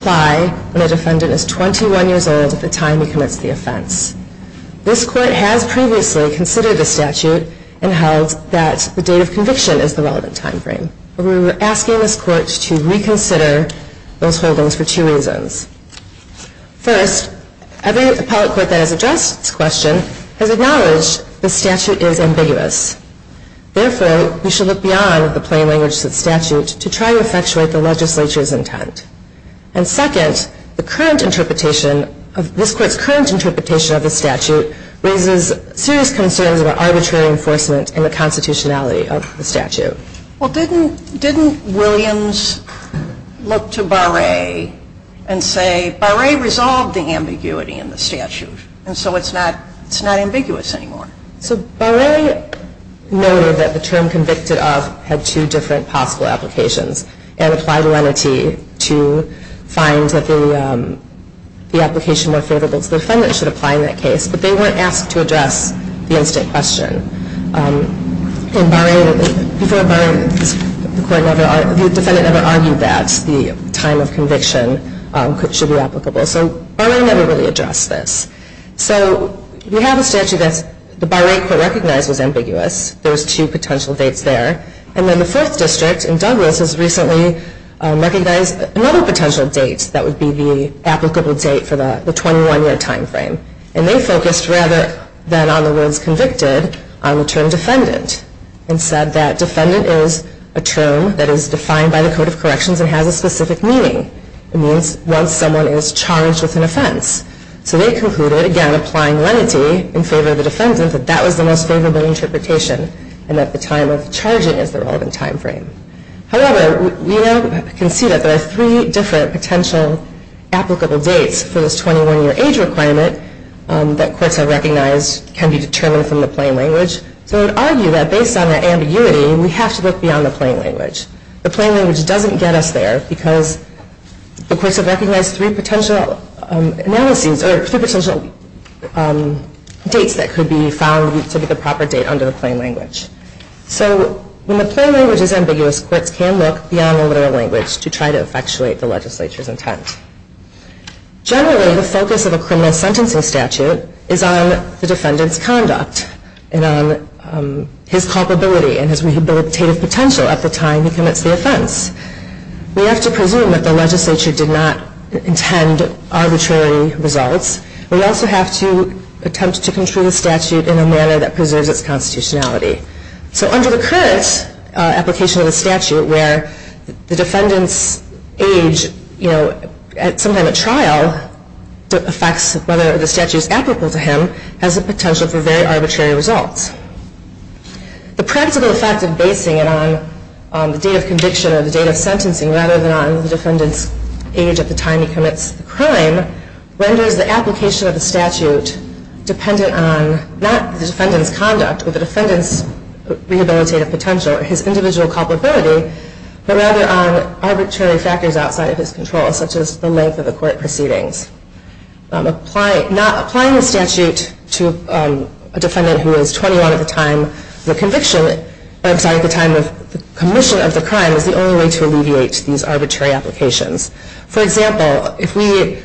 apply when a defendant is 21 years old at the time he commits the offense. This Court has previously considered the statute and held that the date of conviction is the relevant time frame. However, we are asking this Court to reconsider those holdings for two reasons. First, every appellate court that has addressed this question has acknowledged the statute is ambiguous. Therefore, we should look beyond the plain language of the statute to try to effectuate the legislature's intent. And second, this Court's current interpretation of the statute raises serious concerns about arbitrary enforcement and the constitutionality of the statute. Well, didn't Williams look to Barre and say, Barre resolved the ambiguity in the statute, and so it's not ambiguous anymore? So Barre noted that the term convicted of had two different possible applications and applied lenity to find that the application more favorable to the defendant should apply in that case, but they weren't asked to address the instant question. In Barre, before Barre, the defendant never argued that the time of conviction should be applicable. So Barre never really addressed this. So we have a statute that the Barre Court recognized was ambiguous, there was two potential dates there. And then the Fourth District in Douglas has recently recognized another potential date that would be the applicable date for the 21-year time frame. And they focused rather than on the words convicted on the term defendant and said that defendant is a term that is defined by the Code of Corrections and has a specific meaning. It means once someone is charged with an offense. So they concluded, again applying lenity in favor of the defendant, that that was the most favorable interpretation and that the time of charging is the relevant time frame. However, we now can see that there are three different potential applicable dates for this 21-year age requirement that courts have recognized can be determined from the plain language. So I would argue that based on that ambiguity, we have to look beyond the plain language. The plain language doesn't get us there because the courts have recognized three potential analyses or three potential dates that could be found to be the proper date under the plain language. So when the plain language is ambiguous, courts can look beyond the literal language to try to effectuate the legislature's intent. Generally, the focus of a criminal sentencing statute is on the defendant's conduct and on his culpability and his rehabilitative potential at the time he commits the offense. We have to presume that the legislature did not intend arbitrary results. We also have to attempt to control the statute in a manner that preserves its constitutionality. So under the current application of the statute, where the defendant's age at some time of trial affects whether the statute is applicable to him, has the potential for very arbitrary results. The practical effect of basing it on the date of conviction or the date of sentencing rather than on the defendant's age at the time he commits the crime renders the application of the statute dependent on not the defendant's conduct or the defendant's rehabilitative potential or his individual culpability, but rather on arbitrary factors outside of his control, such as the length of the court proceedings. Applying the statute to a defendant who is 21 at the time of the commission of the crime is the only way to alleviate these arbitrary applications. For example, the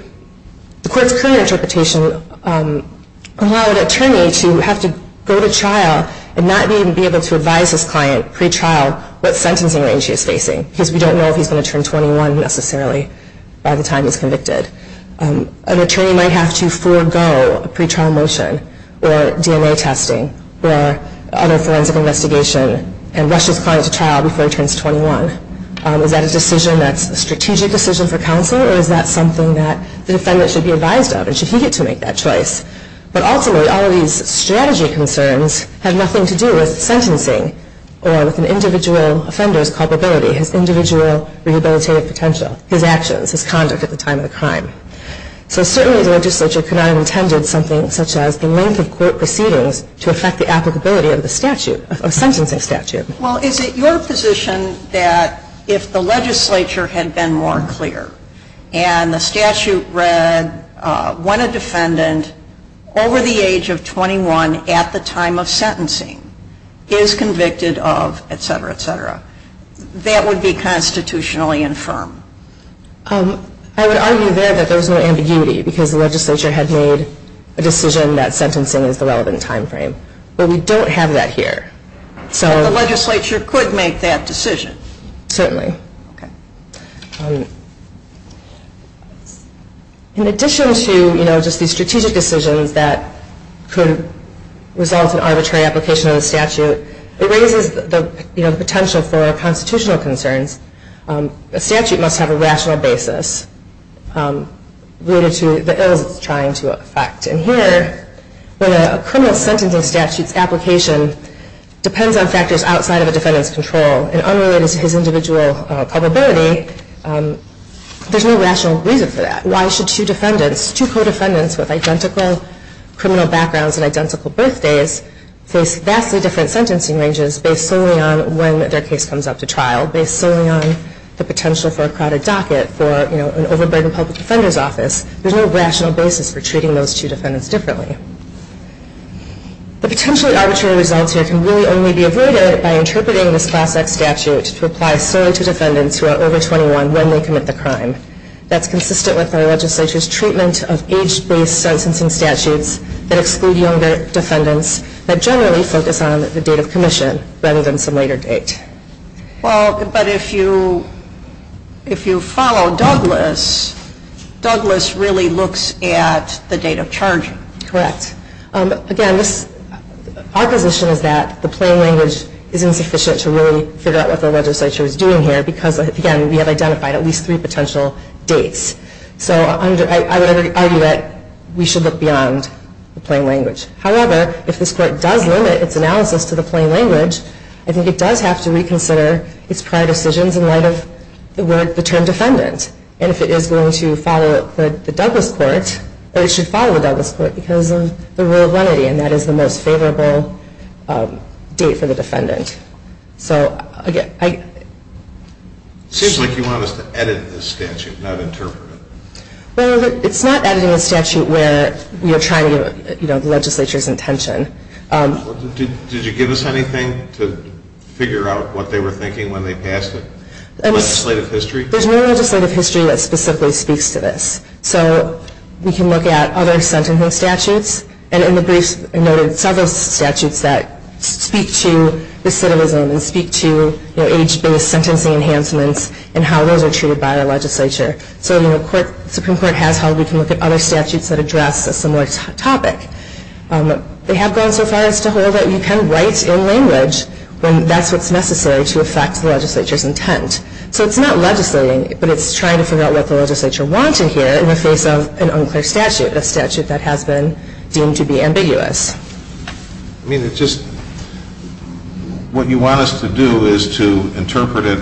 court's current interpretation allowed an attorney to have to go to trial and not even be able to advise his client pre-trial what sentencing range he is facing, because we don't know if he's going to turn 21 necessarily by the time he's convicted. An attorney might have to forego a pre-trial motion or DNA testing or other forensic investigation and rush his client to trial before he turns 21. Is that a strategic decision for counsel, or is that something that the defendant should be advised of, and should he get to make that choice? But ultimately, all of these strategy concerns have nothing to do with sentencing or with the individual offender's culpability, his individual rehabilitative potential, his actions, his conduct at the time of the crime. So certainly the legislature could not have intended something such as the length of court proceedings to affect the applicability of the statute, of a sentencing statute. Well, is it your position that if the legislature had been more clear and the statute read when a defendant over the age of 21 at the time of sentencing is convicted of etc., etc., that would be constitutionally infirm? I would argue there that there was no ambiguity, because the legislature had made a decision that sentencing is the relevant time frame. But we don't have that here. So the legislature could make that decision? Certainly. Okay. In addition to just the strategic decisions that could result in arbitrary application of the statute, it raises the potential for constitutional concerns. A statute must have a rational basis related to the ills it's trying to affect. And here, when a criminal sentencing statute's application depends on factors outside of a defendant's control and unrelated to his individual culpability, there's no rational reason for that. Why should two defendants, two co-defendants with identical criminal backgrounds and identical birthdays face vastly different sentencing ranges based solely on when their case comes up to trial, based solely on the potential for a crowded docket for an overburdened public defender's office. There's no rational basis for treating those two defendants differently. The potentially arbitrary results here can really only be avoided by interpreting this Class X statute to apply solely to defendants who are over 21 when they commit the crime. That's consistent with our legislature's treatment of age-based sentencing statutes that exclude younger defendants that generally focus on the date of commission rather than some later date. Well, but if you follow Douglas, Douglas really looks at the date of charging. Correct. Again, our position is that the plain language isn't sufficient to really figure out what the legislature is doing here because, again, we have identified at least three potential dates. So I would argue that we should look beyond the plain language. However, if this Court does limit its analysis to the plain language, I think it does have to reconsider its prior decisions in light of the term defendant. And if it is going to follow the Douglas Court, it should follow the Douglas Court because of the rule of lenity, and that is the most favorable date for the defendant. So, again, I... It seems like you want us to edit this statute, not interpret it. Well, it's not editing a statute where we are trying to give the legislature's intention. Did you give us anything to figure out what they were thinking when they passed it? Legislative history? There's no legislative history that specifically speaks to this. So we can look at other sentencing statutes, and in the briefs I noted several statutes that speak to recidivism and speak to age-based sentencing enhancements and how those are treated by our legislature. So the Supreme Court has held we can look at other statutes that address a similar topic. They have gone so far as to hold that you can write in language when that's what's necessary to affect the legislature's intent. So it's not legislating, but it's trying to figure out what the legislature wanted here in the face of an unclear statute, a statute that has been deemed to be ambiguous. I mean, it just... What you want us to do is to interpret it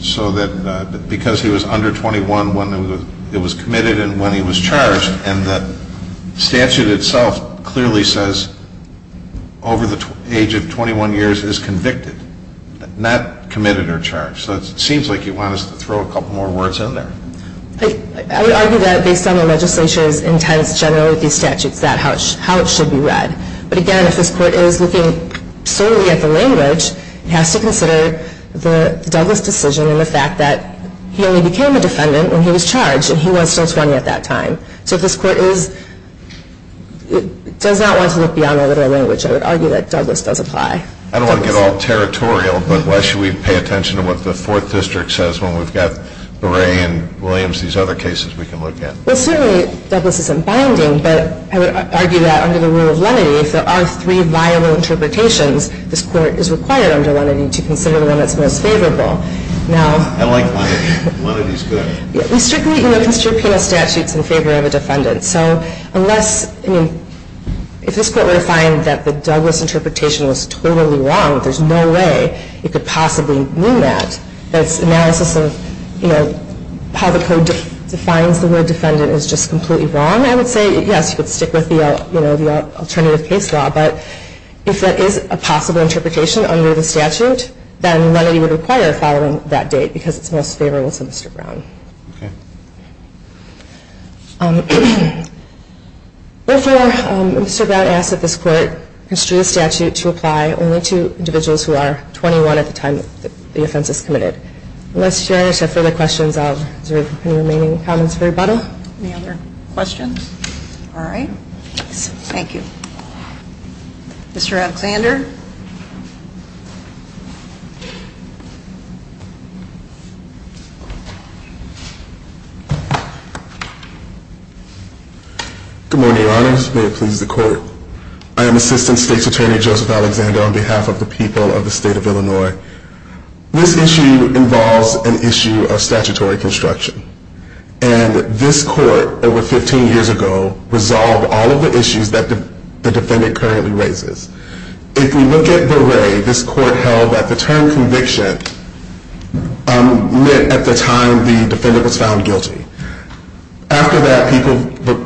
so that because he was under 21 when it was committed and when he was charged, and the statute itself clearly says over the age of 21 years is convicted, not committed or charged. So it seems like you want us to throw a couple more words in there. I would argue that based on the legislature's intent generally with these statutes, that's how it should be read. But again, if this court is looking solely at the language, it has to consider the Douglass decision and the fact that he only became a defendant when he was charged, and he was still 20 at that time. So if this court does not want to look beyond the literal language, I would argue that Douglass does apply. I don't want to get all territorial, but why should we pay attention to what the 4th District says when we've got Berre and Williams, these other cases we can look at? Well, certainly Douglass isn't binding, but I would argue that under the rule of lenity, if there are three viable interpretations, this court is required under lenity to consider the one that's most favorable. I like lenity. Lenity's good. We strictly consider penal statutes in favor of a defendant. So unless... If you were to find that the Douglass interpretation was totally wrong, there's no way you could possibly mean that. That's analysis of, you know, how the code defines the word defendant is just completely wrong. I would say, yes, you could stick with the alternative case law, but if that is a possible interpretation under the statute, then lenity would require following that date because it's most favorable to Mr. Brown. Okay. Therefore, Mr. Brown asks that this court construe the statute to apply only to individuals who are 21 at the time the offense is committed. Unless Your Honor has further questions, is there any remaining comments for rebuttal? Any other questions? All right. Thank you. Mr. Alexander? Good morning, Your Honors. May it please the Court. I am Assistant State's Attorney Joseph Alexander on behalf of the people of the state of Illinois. This issue involves an issue of statutory construction. And this court, over 15 years ago, resolved all of the issues that the defendant currently raises. If we look at Beret, this court held that the term conviction meant at the time the defendant was found guilty. After that,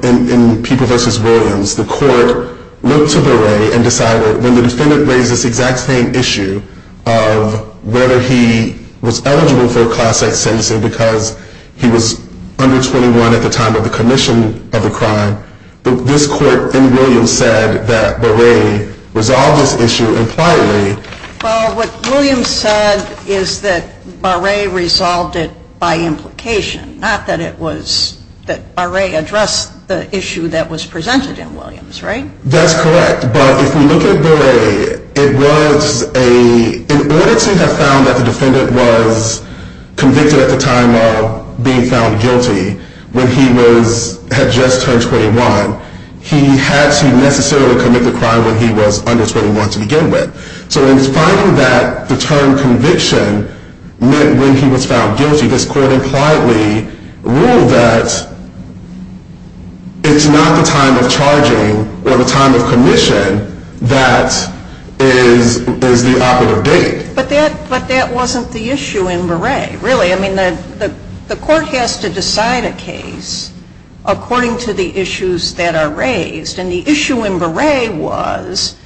in People v. Williams, the court looked to Beret and decided when the defendant raised this exact same issue of whether he was eligible for a class-act sentencing because he was under 21 at the time of the commission of the crime, this court in Williams said that Beret resolved this issue impliedly. Well, what Williams said is that Beret resolved it by implication, not that Beret addressed the issue that was presented in Williams, right? That's correct. But if we look at Beret, it was an order to have found that the defendant was convicted at the time of being found guilty when he had just turned 21. He had to necessarily commit the crime when he was under 21 to begin with. So in finding that the term conviction meant when he was found guilty, this court impliedly ruled that it's not the time of charging or the time of commission that is the operative date. But that wasn't the issue in Beret, really. I mean, the court has to decide a case according to the issues that are raised, and the issue in Beret was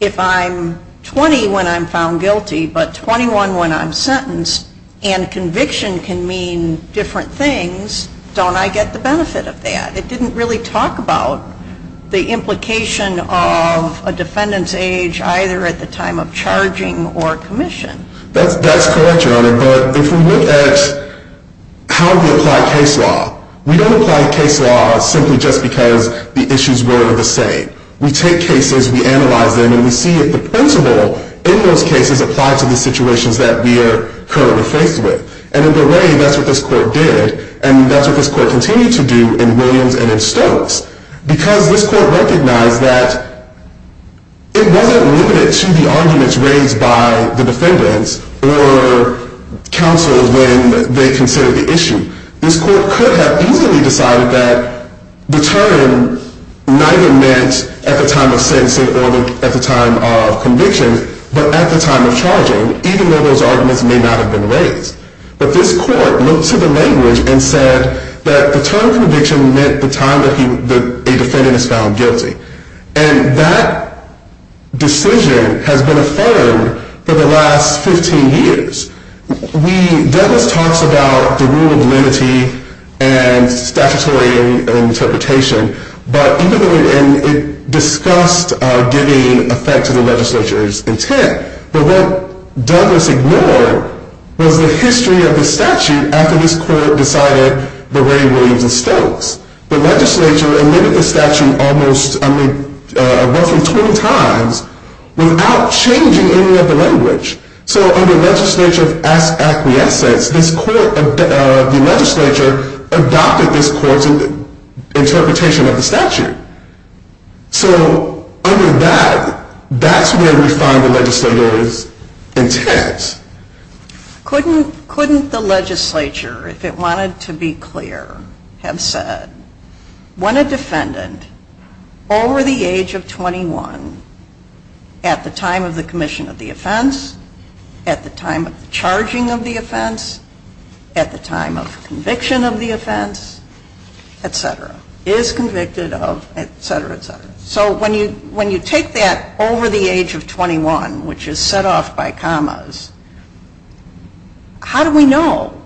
if I'm 20 when I'm found guilty but 21 when I'm sentenced and conviction can mean different things, don't I get the benefit of that? It didn't really talk about the implication of a defendant's age either at the time of charging or commission. That's correct, Your Honor. But if we look at how we apply case law, we don't apply case law simply just because the issues were the same. We take cases, we analyze them, and we see if the principle in those cases applies to the situations that we are currently faced with. And in Beret, that's what this court did, and that's what this court continued to do in Williams and in Stokes because this court recognized that it wasn't limited to the arguments raised by the defendants or counsel when they considered the issue. This court could have easily decided that the term neither meant at the time of sentencing or at the time of conviction but at the time of charging, even though those arguments may not have been raised. But this court looked to the language and said that the term conviction meant the time that a defendant is found guilty. And that decision has been affirmed for the last 15 years. Douglas talks about the rule of lenity and statutory interpretation, and it discussed giving effect to the legislature's intent. But what Douglas ignored was the history of the statute after this court decided Beret, Williams, and Stokes. The legislature amended the statute roughly 20 times without changing any of the language. So under legislature of acquiescence, the legislature adopted this court's interpretation of the statute. So under that, that's where we find the legislature's intent. Couldn't the legislature, if it wanted to be clear, have said when a defendant over the age of 21 at the time of the commission of the offense, at the time of the charging of the offense, at the time of conviction of the offense, etc., is convicted of, etc., etc. So when you take that over the age of 21, which is set off by commas, how do we know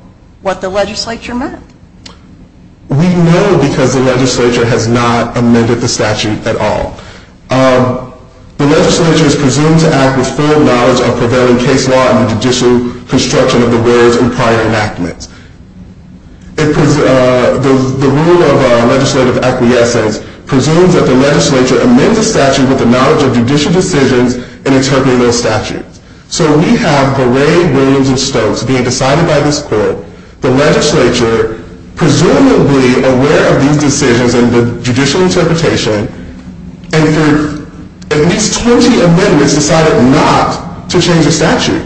what the legislature meant? We know because the legislature has not amended the statute at all. The legislature is presumed to act with full knowledge of prevailing case law and the judicial construction of the rules in prior enactments. The rule of legislative acquiescence presumes that the legislature amends the statute with the knowledge of judicial decisions in interpreting those statutes. So we have Beret, Williams, and Stokes being decided by this court. The legislature, presumably aware of these decisions and the judicial interpretation, and for at least 20 amendments, decided not to change the statute.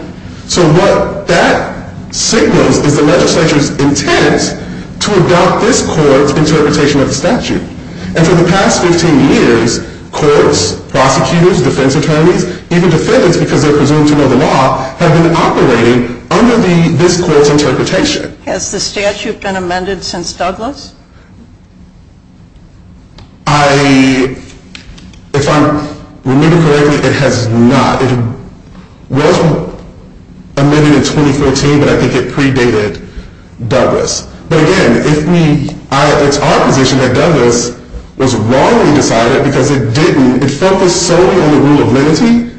So what that signals is the legislature's intent to adopt this court's interpretation of the statute. And for the past 15 years, courts, prosecutors, defense attorneys, even defendants, because they're presumed to know the law, have been operating under this court's interpretation. Has the statute been amended since Douglas? If I remember correctly, it has not. It was amended in 2014, but I think it predated Douglas. But again, it's our position that Douglas was wrongly decided because it focused solely on the rule of lenity,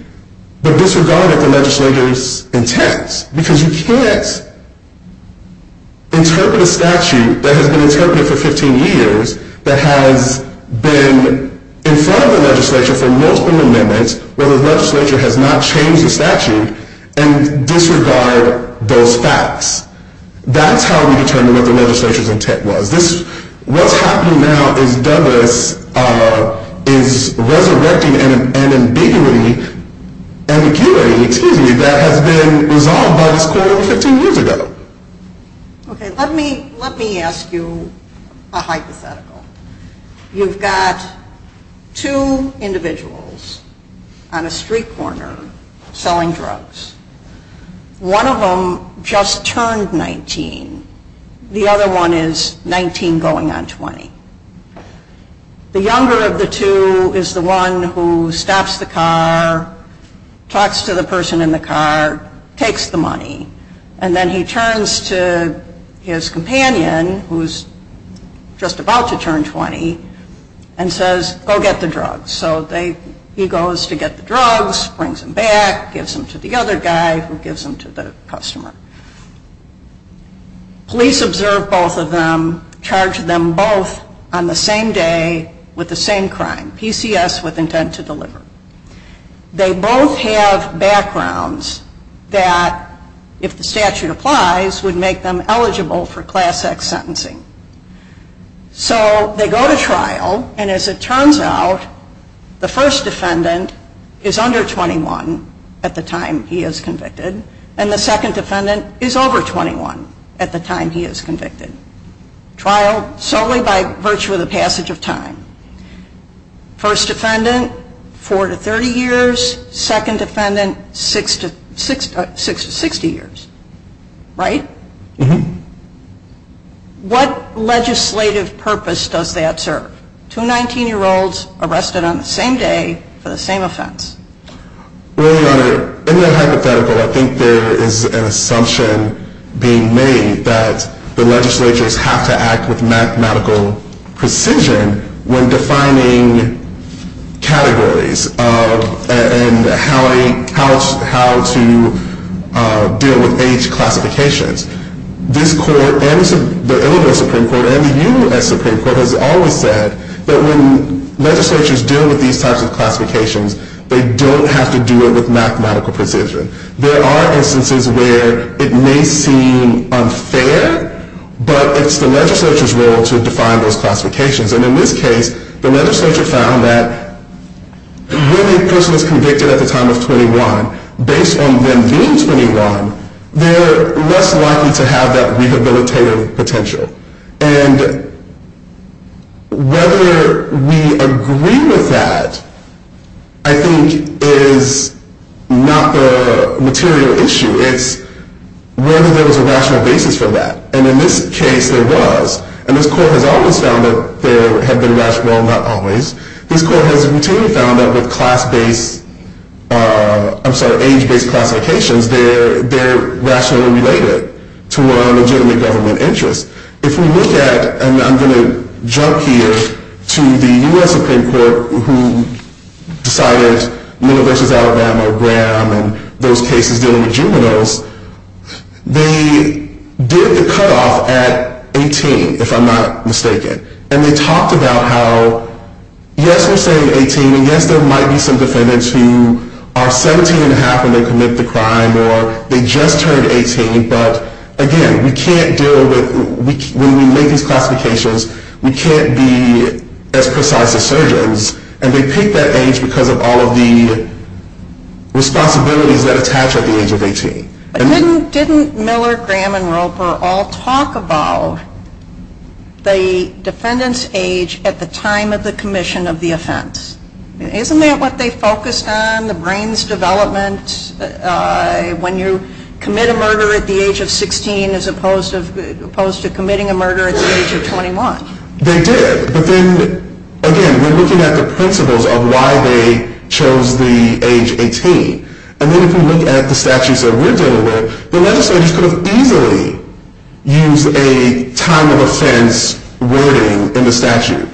but disregarded the legislature's intent. Because you can't interpret a statute that has been interpreted for 15 years that has been in front of the legislature for multiple amendments where the legislature has not changed the statute and disregard those facts. That's how we determine what the legislature's intent was. What's happening now is Douglas is resurrecting an ambiguity that has been resolved by this court 15 years ago. Okay, let me ask you a hypothetical. You've got two individuals on a street corner selling drugs. One of them just turned 19. The other one is 19 going on 20. The younger of the two is the one who stops the car, talks to the person in the car, takes the money, and then he turns to his companion, who's just about to turn 20, and says, go get the drugs. So he goes to get the drugs, brings them back, gives them to the other guy who gives them to the customer. Police observe both of them, charge them both on the same day with the same crime, PCS with intent to deliver. They both have backgrounds that, if the statute applies, would make them eligible for Class X sentencing. So they go to trial, and as it turns out, the first defendant is under 21 at the time he is convicted, and the second defendant is over 21 at the time he is convicted. Trial solely by virtue of the passage of time. First defendant, 4 to 30 years. Second defendant, 6 to 60 years. Right? Mm-hmm. What legislative purpose does that serve? Two 19-year-olds arrested on the same day for the same offense. Well, Your Honor, in that hypothetical, I think there is an assumption being made that the legislatures have to act with mathematical precision when defining categories and how to deal with age classifications. This Court, and the Illinois Supreme Court, and the U.S. Supreme Court has always said that when legislatures deal with these types of classifications, they don't have to do it with mathematical precision. There are instances where it may seem unfair, but it's the legislature's role to define those classifications. And in this case, the legislature found that when a person is convicted at the time of 21, based on them being 21, they're less likely to have that rehabilitative potential. And whether we agree with that, I think, is not the material issue. It's whether there was a rational basis for that. And in this case, there was. And this Court has always found that there had been rational, not always. This Court has routinely found that with class-based, I'm sorry, age-based classifications, they're rationally related to a legitimate government interest. If we look at, and I'm going to jump here, to the U.S. Supreme Court, who decided Miller v. Alabama, Graham, and those cases dealing with juveniles, they did the cutoff at 18, if I'm not mistaken. And they talked about how, yes, we're saying 18, when they commit the crime, or they just turned 18, but again, we can't deal with, when we make these classifications, we can't be as precise as surgeons. And they picked that age because of all of the responsibilities that attach at the age of 18. But didn't Miller, Graham, and Roper all talk about the defendant's age at the time of the commission of the offense? Isn't that what they focused on, the brain's development, when you commit a murder at the age of 16 as opposed to committing a murder at the age of 21? They did. But then, again, we're looking at the principles of why they chose the age 18. And then if we look at the statutes that we're dealing with, the legislators could have easily used a time of offense wording in the statute.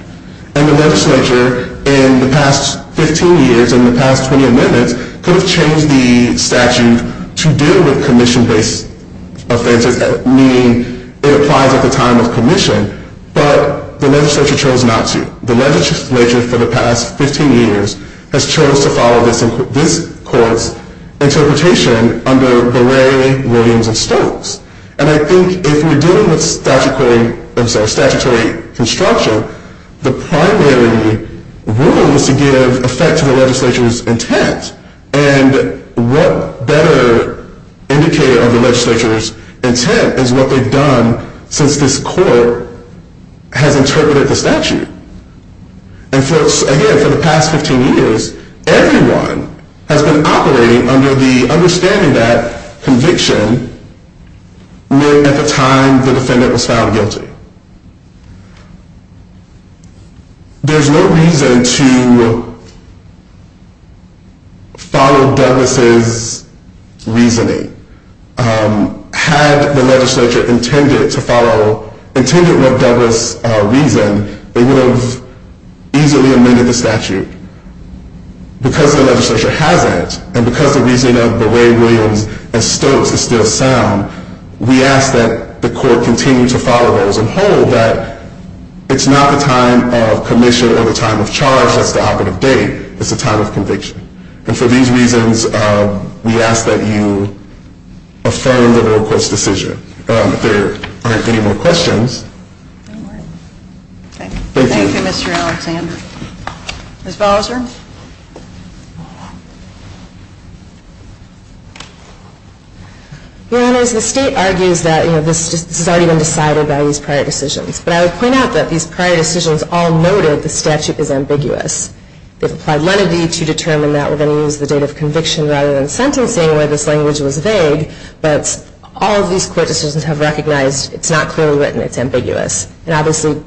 And the legislature, in the past 15 years, in the past 20 amendments, could have changed the statute to deal with commission-based offenses, meaning it applies at the time of commission. But the legislature chose not to. The legislature, for the past 15 years, has chose to follow this court's interpretation under Berre, Williams, and Stokes. And I think if you're dealing with statutory construction, you have the primary rules to give effect to the legislature's intent. And what better indicator of the legislature's intent is what they've done since this court has interpreted the statute? And again, for the past 15 years, everyone has been operating under the understanding that conviction meant at the time the defendant was found guilty. There's no reason to follow Douglas' reasoning. Had the legislature intended to follow, intended what Douglas reasoned, they would have easily amended the statute. Because the legislature hasn't, and because the reasoning of Berre, Williams, and Stokes is still sound, we ask that the court continue to follow those and hold that it's not the time of commission or the time of charge that's the output of date. It's the time of conviction. And for these reasons, we ask that you affirm the royal court's decision. If there aren't any more questions. Thank you, Mr. Alexander. Ms. Bowser. Your Honors, the state argues that this has already been decided by these prior decisions. But I would point out that these prior decisions all noted the statute is ambiguous. They've applied lenity to determine that we're going to use the date of conviction rather than sentencing, where this language was vague. But all of these court decisions have recognized it's not clearly written. It's ambiguous. So to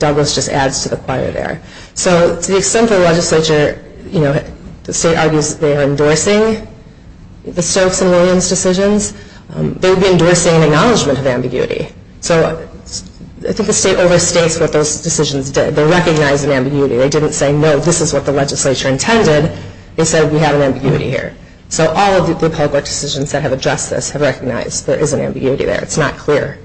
the extent the legislature is willing to follow the state argues they are endorsing the Stokes and Williams decisions, they would be endorsing an acknowledgment of ambiguity. So I think the state overstates what those decisions did. They recognized an ambiguity. They didn't say, no, this is what the legislature intended. They said, we have an ambiguity here. So all of the public decisions that have addressed this have recognized there is an ambiguity there. It's not clear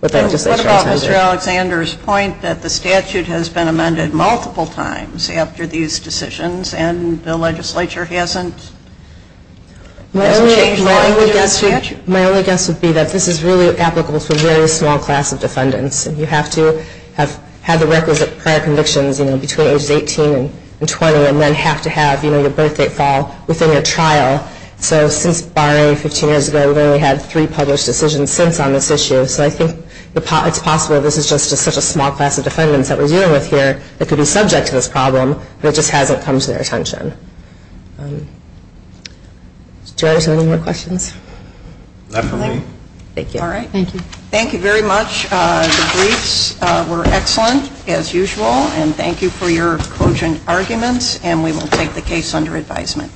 what the legislature intended. What about Mr. Alexander's point that the statute has been amended multiple times after these decisions and the legislature hasn't changed the language of the statute? My only guess would be that this is really applicable to a very small class of defendants. And you have to have had the requisite prior convictions between ages 18 and 20 and then have to have your birthday fall within your trial. So since barring 15 years ago, we've only had three published decisions since on this issue. So I think it's possible this is just such a small class of defendants that we're dealing with here that could be subject to this problem, but it just hasn't come to their attention. Do you guys have any more questions? Not for me. Thank you. All right. Thank you. Thank you very much. The briefs were excellent, as usual. And thank you for your cogent arguments. And we will take the case under advisement.